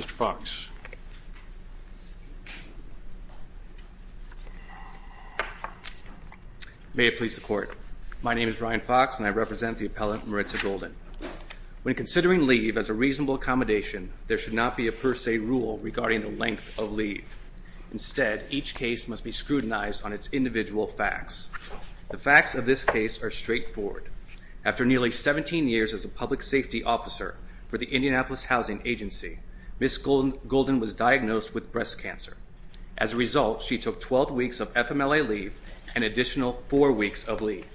Mr. Fox. May it please the court. My name is Ryan Fox and I represent the appellant Mertza Golden. When considering leave as a reasonable accommodation, there should not be a per se rule regarding the length of leave. Instead, each case must be scrutinized on its individual facts. The facts of this case are straightforward. After nearly 17 years as a public safety officer for the Indianapolis Housing Agency, Ms. Golden was diagnosed with breast cancer. As a result, she took 12 weeks of FMLA leave and an additional 4 weeks of leave.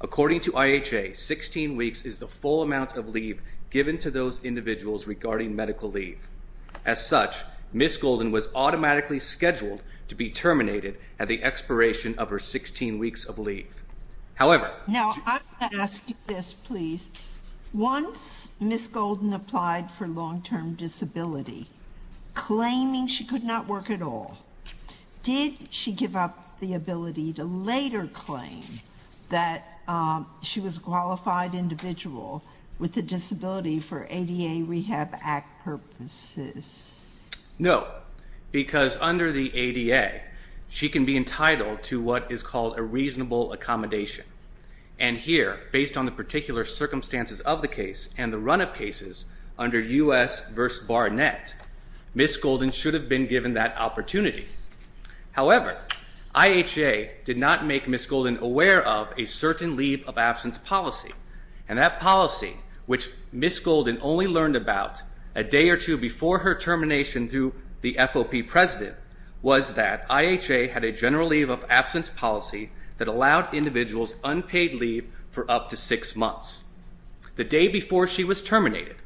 According to IHA, 16 weeks is the full amount of leave given to those individuals regarding medical leave. As such, Ms. Golden was automatically scheduled to be terminated at the expiration of her 16 weeks of leave. However... Now, I'm going to ask you this please. Once Ms. Golden applied for long-term disability, claiming she could not work at all, did she give up the ability to later claim that she was a qualified individual with a disability for ADA Rehab Act purposes? No. Because under the ADA, she can be entitled to what is called a reasonable accommodation. And here, based on the particular circumstances of the case and the run of cases under U.S. v. Barnett, Ms. Golden should have been given that opportunity. However, IHA did not make Ms. Golden aware of a certain leave of absence policy. And that policy, which Ms. Golden only learned about a day or two before her termination through the FOP president, was that IHA had a general leave of absence policy that allowed individuals unpaid leave for up to six months. The day before she was terminated,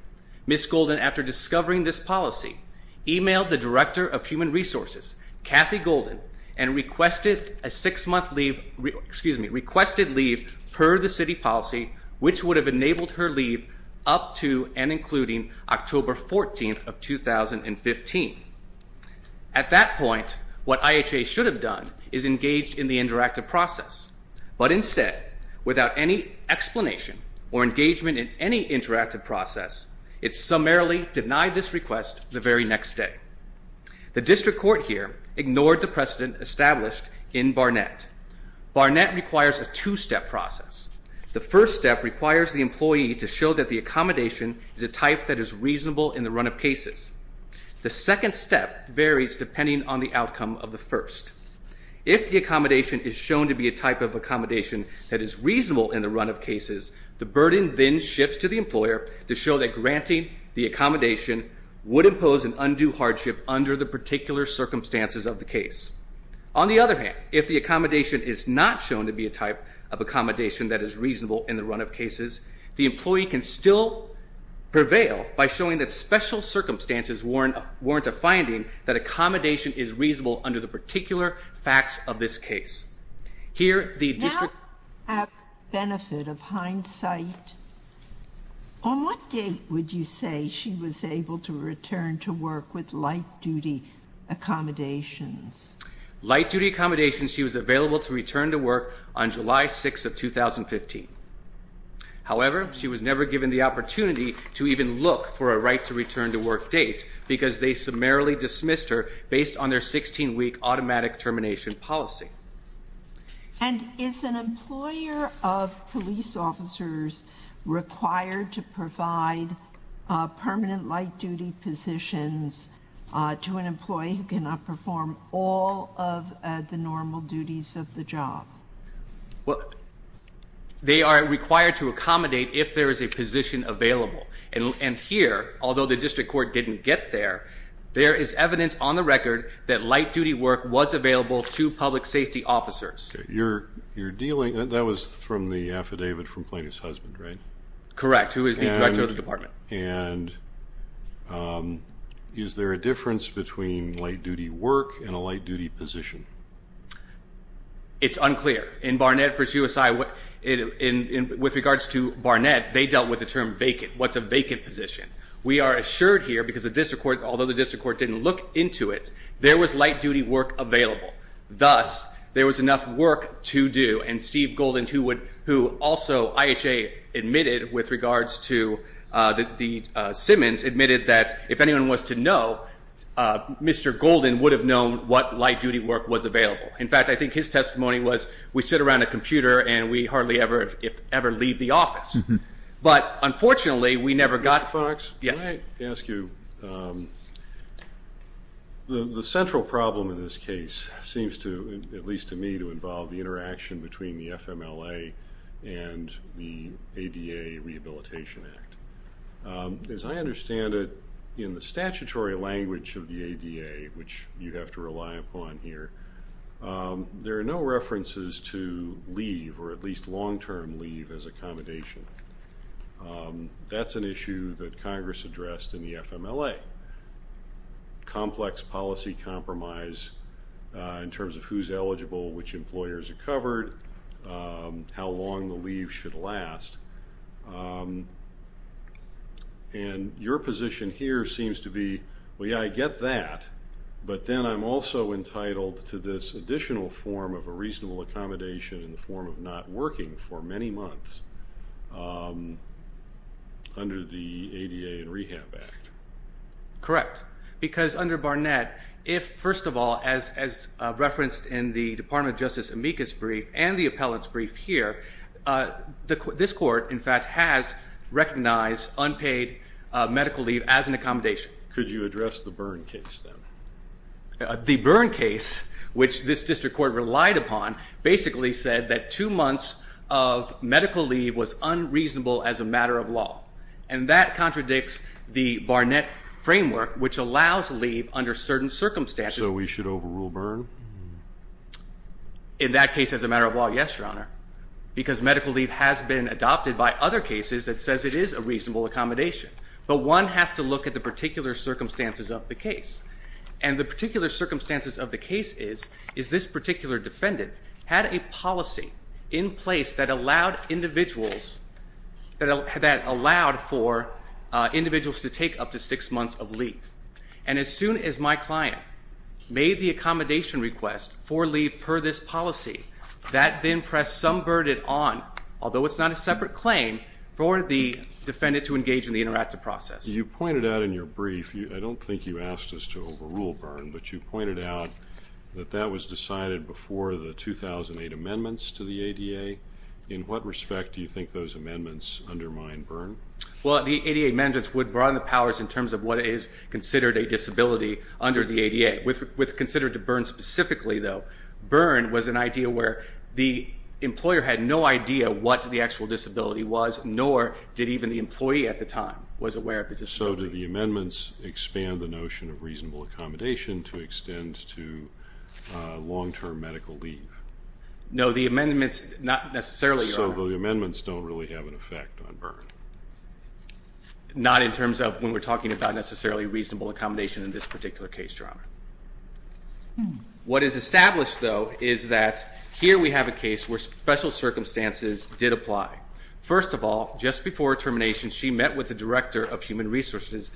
Ms. Golden, after discovering this policy, emailed the Director of Human Resources, Kathy Golden, and requested a six-month leave, excuse me, requested leave per the city policy, which would have enabled her leave up to and including October 14th of 2015. At that point, what IHA should have done is engaged in the interactive process. But instead, without any explanation or engagement in any interactive process, it summarily denied this request the very next day. The district court here ignored the precedent established in Barnett. Barnett requires a two-step process. The first step requires the employee to show that the accommodation is a type that is reasonable in the run of cases. The second step varies depending on the outcome of the first. If the accommodation is shown to be a type of accommodation that is reasonable in the run of cases, the burden then shifts to the employer to show that granting the accommodation would impose an undue hardship under the particular circumstances of the case. On the other hand, if the accommodation is not shown to be a type of accommodation that is reasonable in the run of cases, the employee can still prevail by showing that special circumstances warrant a finding that accommodation is reasonable under the particular facts of this case. Now, for the benefit of hindsight, on what date would you say she was able to return to work with light-duty accommodations? Light-duty accommodations, she was available to return to work on July 6th of 2015. However, she was never given the opportunity to even look for a right-to-return-to-work date because they summarily dismissed her based on their 16-week automatic termination policy. And is an employer of police officers required to provide permanent light-duty positions to an employee who cannot perform all of the normal duties of the job? Well, they are required to accommodate if there is a position available. And here, although the district court didn't get there, there is evidence on the record that light-duty work was available to public safety officers. Okay. You're dealing – that was from the affidavit from Plaintiff's husband, right? Correct, who is the director of the department. And is there a difference between light-duty work and a light-duty position? It's unclear. In Barnett v. USI, with regards to Barnett, they dealt with the term vacant. What's a vacant position? We are assured here because the district court, although the district court didn't look into it, there was light-duty work available. Thus, there was enough work to do. And Steve Golden, who also IHA admitted with regards to the Simmons, admitted that if anyone was to know, Mr. Golden would have known what light-duty work was available. In fact, I think his testimony was, we sit around a computer and we hardly ever leave the office. But unfortunately, we never got – Mr. Fox? Yes. May I ask you, the central problem in this case seems to, at least to me, to involve the interaction between the FMLA and the ADA Rehabilitation Act. As I understand it, in the statutory language of the ADA, which you have to rely upon here, there are no references to leave or at least long-term leave as accommodation. That's an issue that Congress addressed in the FMLA. Complex policy compromise in terms of who's eligible, which employers are covered, how long the leave should last. And your position here seems to be, well, yeah, I get that, but then I'm also entitled to this additional form of a reasonable accommodation in the form of not working for many months under the ADA and Rehab Act. Correct. Because under Barnett, if, first of all, as referenced in the Department of Justice amicus brief and the appellant's brief here, this court, in fact, has recognized unpaid medical leave as an accommodation. Could you address the Byrne case, then? The Byrne case, which this district court relied upon, basically said that two months of medical leave was unreasonable as a matter of law. And that contradicts the Barnett framework, which allows leave under certain circumstances. So we should overrule Byrne? In that case as a matter of law, yes, Your Honor, because medical leave has been adopted by other cases that says it is a reasonable accommodation. But one has to look at the particular circumstances of the case. And the particular circumstances of the case is this particular defendant had a policy in place that allowed for individuals to take up to six months of leave. And as soon as my client made the accommodation request for leave per this policy, that then pressed some burden on, although it's not a separate claim, for the defendant to engage in the interactive process. You pointed out in your brief, I don't think you asked us to overrule Byrne, but you pointed out that that was decided before the 2008 amendments to the ADA. In what respect do you think those amendments undermine Byrne? Well, the ADA amendments would broaden the powers in terms of what is considered a disability under the ADA. With considered to Byrne specifically, though, Byrne was an idea where the employer had no idea what the actual disability was, nor did even the employee at the time was aware of the disability. So do the amendments expand the notion of reasonable accommodation to extend to long-term medical leave? No, the amendments not necessarily, Your Honor. So the amendments don't really have an effect on Byrne? Not in terms of when we're talking about necessarily reasonable accommodation in this particular case, Your Honor. What is established, though, is that here we have a case where special circumstances did apply. First of all, just before termination, she met with the director of human resources,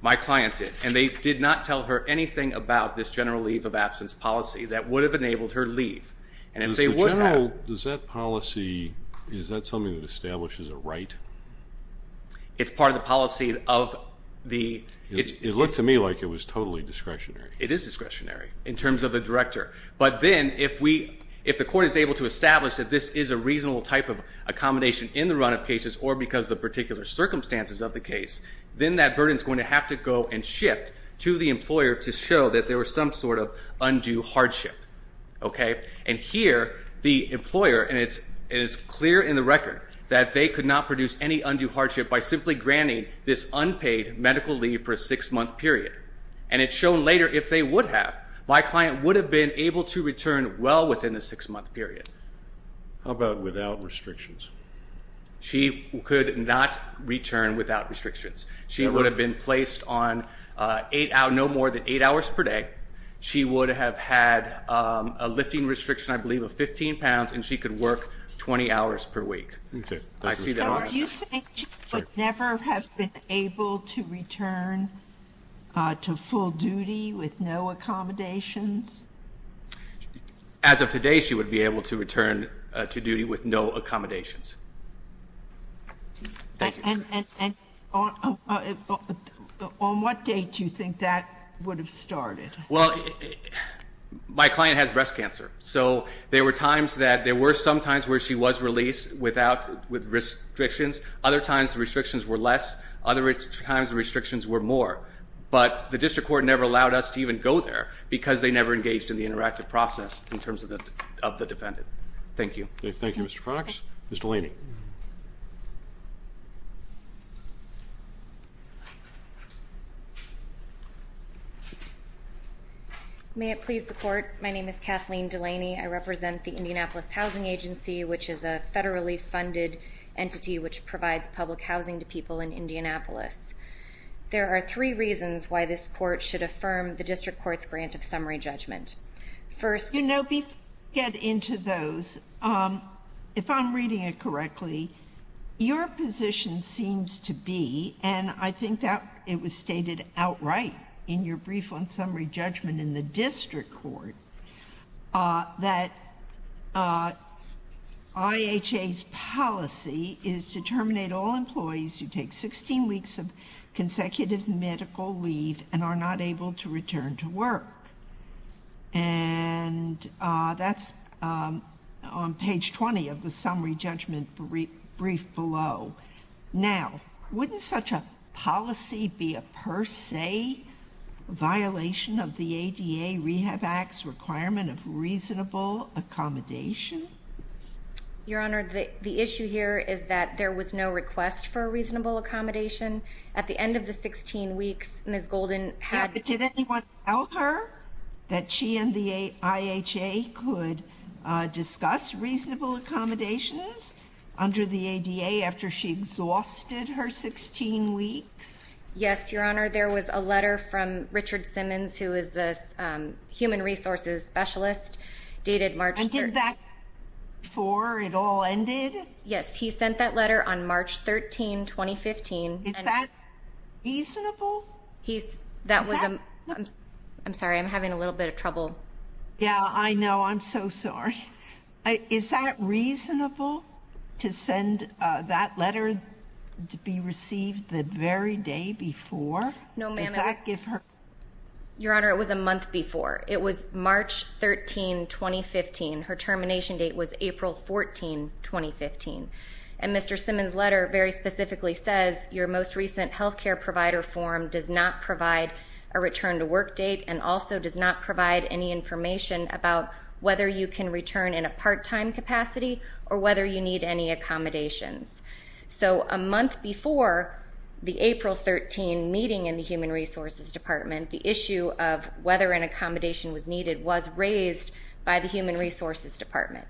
my client did, and they did not tell her anything about this general leave of absence policy that would have enabled her leave. Does that policy, is that something that establishes a right? It's part of the policy of the... It looked to me like it was totally discretionary. It is discretionary in terms of the director. But then if the court is able to establish that this is a reasonable type of accommodation in the run-up cases or because of the particular circumstances of the case, then that burden is going to have to go and shift to the employer to show that there was some sort of undue hardship. And here the employer, and it is clear in the record that they could not produce any undue hardship by simply granting this unpaid medical leave for a six-month period. And it's shown later, if they would have, my client would have been able to return well within the six-month period. How about without restrictions? She could not return without restrictions. She would have been placed on no more than eight hours per day. She would have had a lifting restriction, I believe, of 15 pounds, and she could work 20 hours per week. Okay. I see that already. Do you think she would never have been able to return to full duty with no accommodations? As of today, she would be able to return to duty with no accommodations. And on what date do you think that would have started? Well, my client has breast cancer. So there were times that there were some times where she was released without restrictions. Other times the restrictions were less. Other times the restrictions were more. But the district court never allowed us to even go there because they never engaged in the interactive process in terms of the defendant. Thank you. Thank you, Mr. Fox. Ms. Delaney. May it please the Court. My name is Kathleen Delaney. I represent the Indianapolis Housing Agency, which is a federally funded entity which provides public housing to people in Indianapolis. There are three reasons why this court should affirm the district court's grant of summary judgment. You know, before we get into those, if I'm reading it correctly, your position seems to be, and I think it was stated outright in your brief on summary judgment in the district court, that IHA's policy is to terminate all employees who take 16 weeks of consecutive medical leave and are not able to return to work. And that's on page 20 of the summary judgment brief below. Now, wouldn't such a policy be a per se violation of the ADA Rehab Act's requirement of reasonable accommodation? Your Honor, the issue here is that there was no request for reasonable accommodation. At the end of the 16 weeks, Ms. Golden had to go. IHA could discuss reasonable accommodations under the ADA after she exhausted her 16 weeks? Yes, Your Honor. There was a letter from Richard Simmons, who is the human resources specialist, dated March 3rd. And did that before it all ended? Yes, he sent that letter on March 13, 2015. Is that reasonable? I'm sorry, I'm having a little bit of trouble. Yeah, I know. I'm so sorry. Is that reasonable to send that letter to be received the very day before? No, ma'am. Your Honor, it was a month before. It was March 13, 2015. Her termination date was April 14, 2015. And Mr. Simmons' letter very specifically says, your most recent health care provider form does not provide a return to work date and also does not provide any information about whether you can return in a part-time capacity or whether you need any accommodations. So a month before the April 13 meeting in the human resources department, the issue of whether an accommodation was needed was raised by the human resources department.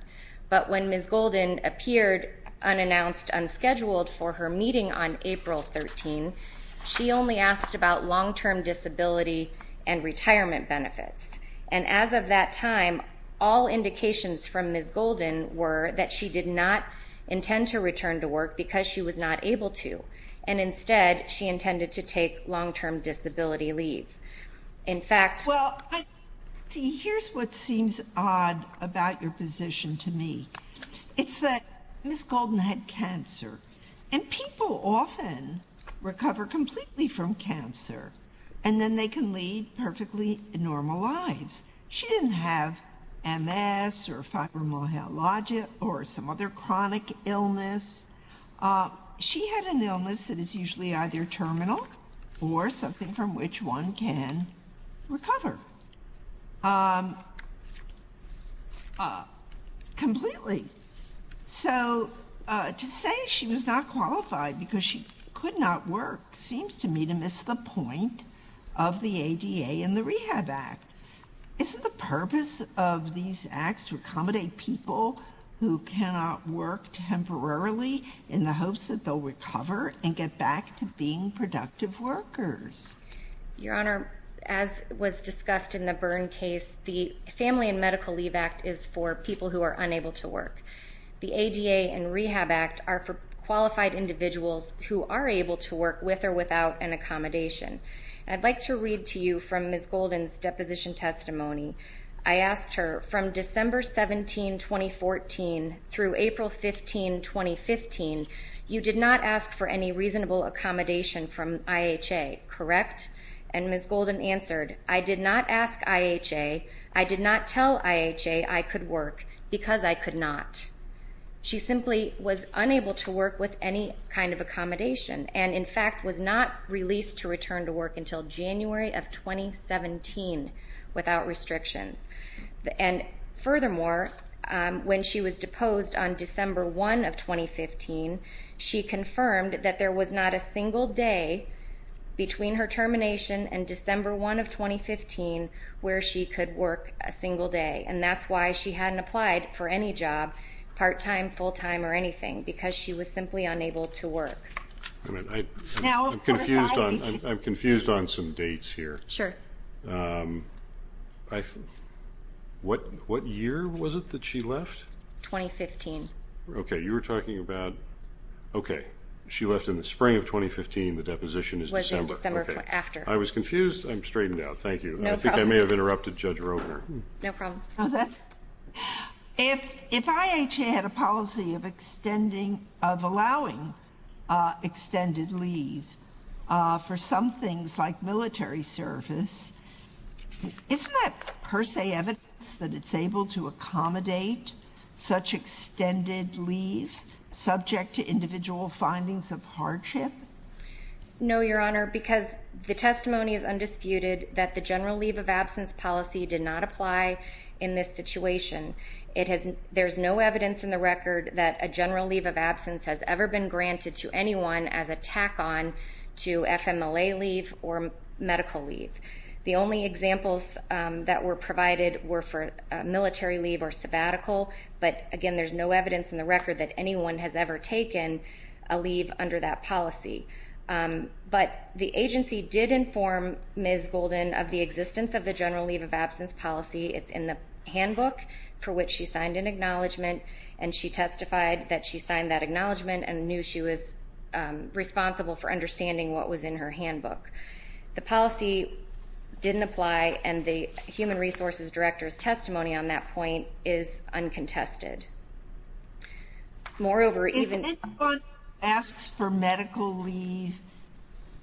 But when Ms. Golden appeared unannounced, unscheduled, for her meeting on April 13, she only asked about long-term disability and retirement benefits. And as of that time, all indications from Ms. Golden were that she did not intend to return to work because she was not able to, and instead she intended to take long-term disability leave. Well, see, here's what seems odd about your position to me. It's that Ms. Golden had cancer, and people often recover completely from cancer, and then they can lead perfectly normal lives. She didn't have MS or fibromyalgia or some other chronic illness. She had an illness that is usually either terminal or something from which one can recover completely. So to say she was not qualified because she could not work seems to me to miss the point of the ADA and the Rehab Act. Isn't the purpose of these acts to accommodate people who cannot work temporarily in the hopes that they'll recover and get back to being productive workers? Your Honor, as was discussed in the Byrne case, the Family and Medical Leave Act is for people who are unable to work. The ADA and Rehab Act are for qualified individuals who are able to work with or without an accommodation. I'd like to read to you from Ms. Golden's deposition testimony. I asked her, from December 17, 2014, through April 15, 2015, you did not ask for any reasonable accommodation from IHA, correct? And Ms. Golden answered, I did not ask IHA. I did not tell IHA I could work because I could not. She simply was unable to work with any kind of accommodation, and in fact was not released to return to work until January of 2017 without restrictions. And furthermore, when she was deposed on December 1 of 2015, she confirmed that there was not a single day between her termination and December 1 of 2015 where she could work a single day. And that's why she hadn't applied for any job, part-time, full-time, or anything, because she was simply unable to work. I'm confused on some dates here. Sure. What year was it that she left? 2015. Okay. You were talking about, okay, she left in the spring of 2015. The deposition is December. It was in December after. I was confused. I'm straightened out. Thank you. No problem. I may have interrupted Judge Rovner. No problem. If IHA had a policy of allowing extended leave for some things like military service, isn't that per se evidence that it's able to accommodate such extended leaves subject to individual findings of hardship? No, Your Honor, because the testimony is undisputed that the general leave of absence policy did not apply in this situation. There's no evidence in the record that a general leave of absence has ever been granted to anyone as a tack-on to FMLA leave or medical leave. The only examples that were provided were for military leave or sabbatical, but, again, there's no evidence in the record that anyone has ever taken a leave under that policy. But the agency did inform Ms. Golden of the existence of the general leave of absence policy. It's in the handbook for which she signed an acknowledgment, and she testified that she signed that acknowledgment and knew she was responsible for understanding what was in her handbook. The policy didn't apply, and the Human Resources Director's testimony on that point is uncontested. If anyone asks for medical leave,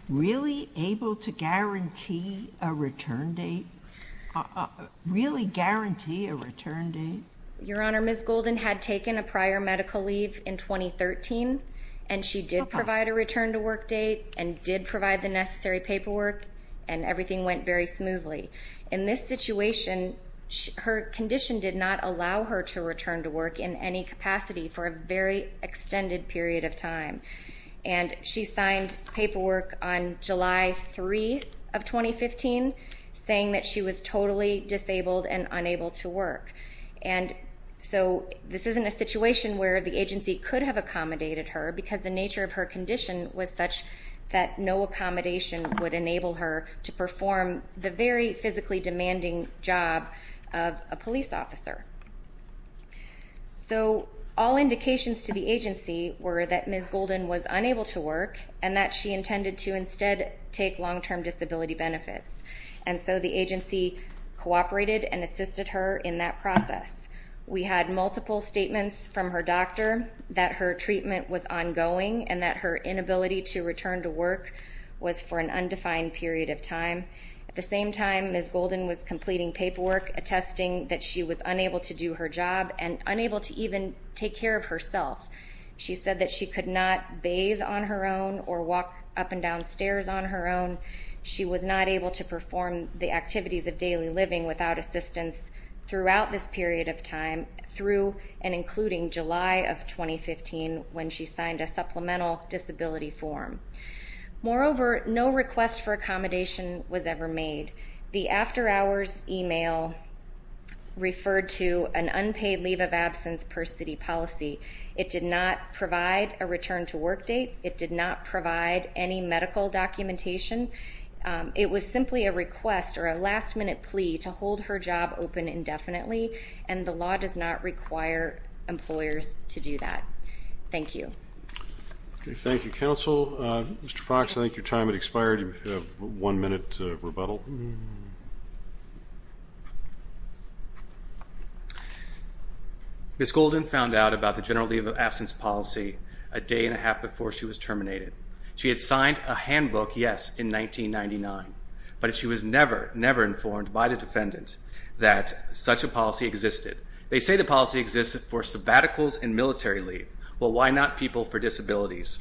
really able to guarantee a return date? Really guarantee a return date? Your Honor, Ms. Golden had taken a prior medical leave in 2013, and she did provide a return-to-work date and did provide the necessary paperwork, and everything went very smoothly. In this situation, her condition did not allow her to return to work in any capacity for a very extended period of time, and she signed paperwork on July 3 of 2015 saying that she was totally disabled and unable to work. And so this isn't a situation where the agency could have accommodated her because the nature of her condition was such that no accommodation would enable her to perform the very physically demanding job of a police officer. So all indications to the agency were that Ms. Golden was unable to work and that she intended to instead take long-term disability benefits. And so the agency cooperated and assisted her in that process. We had multiple statements from her doctor that her treatment was ongoing and that her inability to return to work was for an undefined period of time. At the same time, Ms. Golden was completing paperwork attesting that she was unable to do her job and unable to even take care of herself. She said that she could not bathe on her own or walk up and down stairs on her own. She was not able to perform the activities of daily living without assistance throughout this period of time through and including July of 2015 when she signed a supplemental disability form. Moreover, no request for accommodation was ever made. The after-hours email referred to an unpaid leave of absence per city policy. It did not provide a return-to-work date. It did not provide any medical documentation. It was simply a request or a last-minute plea to hold her job open indefinitely, and the law does not require employers to do that. Thank you. Thank you, counsel. Mr. Fox, I think your time has expired. You have one minute to rebuttal. Ms. Golden found out about the general leave of absence policy a day and a half before she was terminated. She had signed a handbook, yes, in 1999, but she was never, never informed by the defendant that such a policy existed. They say the policy existed for sabbaticals and military leave. Well, why not people for disabilities?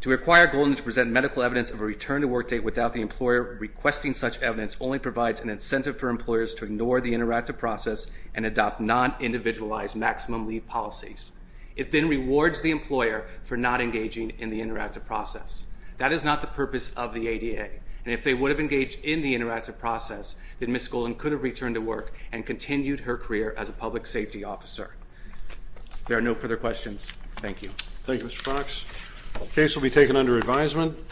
To require Golden to present medical evidence of a return-to-work date without the employer requesting such evidence only provides an incentive for employers to ignore the interactive process and adopt non-individualized maximum leave policies. It then rewards the employer for not engaging in the interactive process. That is not the purpose of the ADA, and if they would have engaged in the interactive process, then Ms. Golden could have returned to work and continued her career as a public safety officer. If there are no further questions, thank you. Thank you, Mr. Fox. The case will be taken under advisement.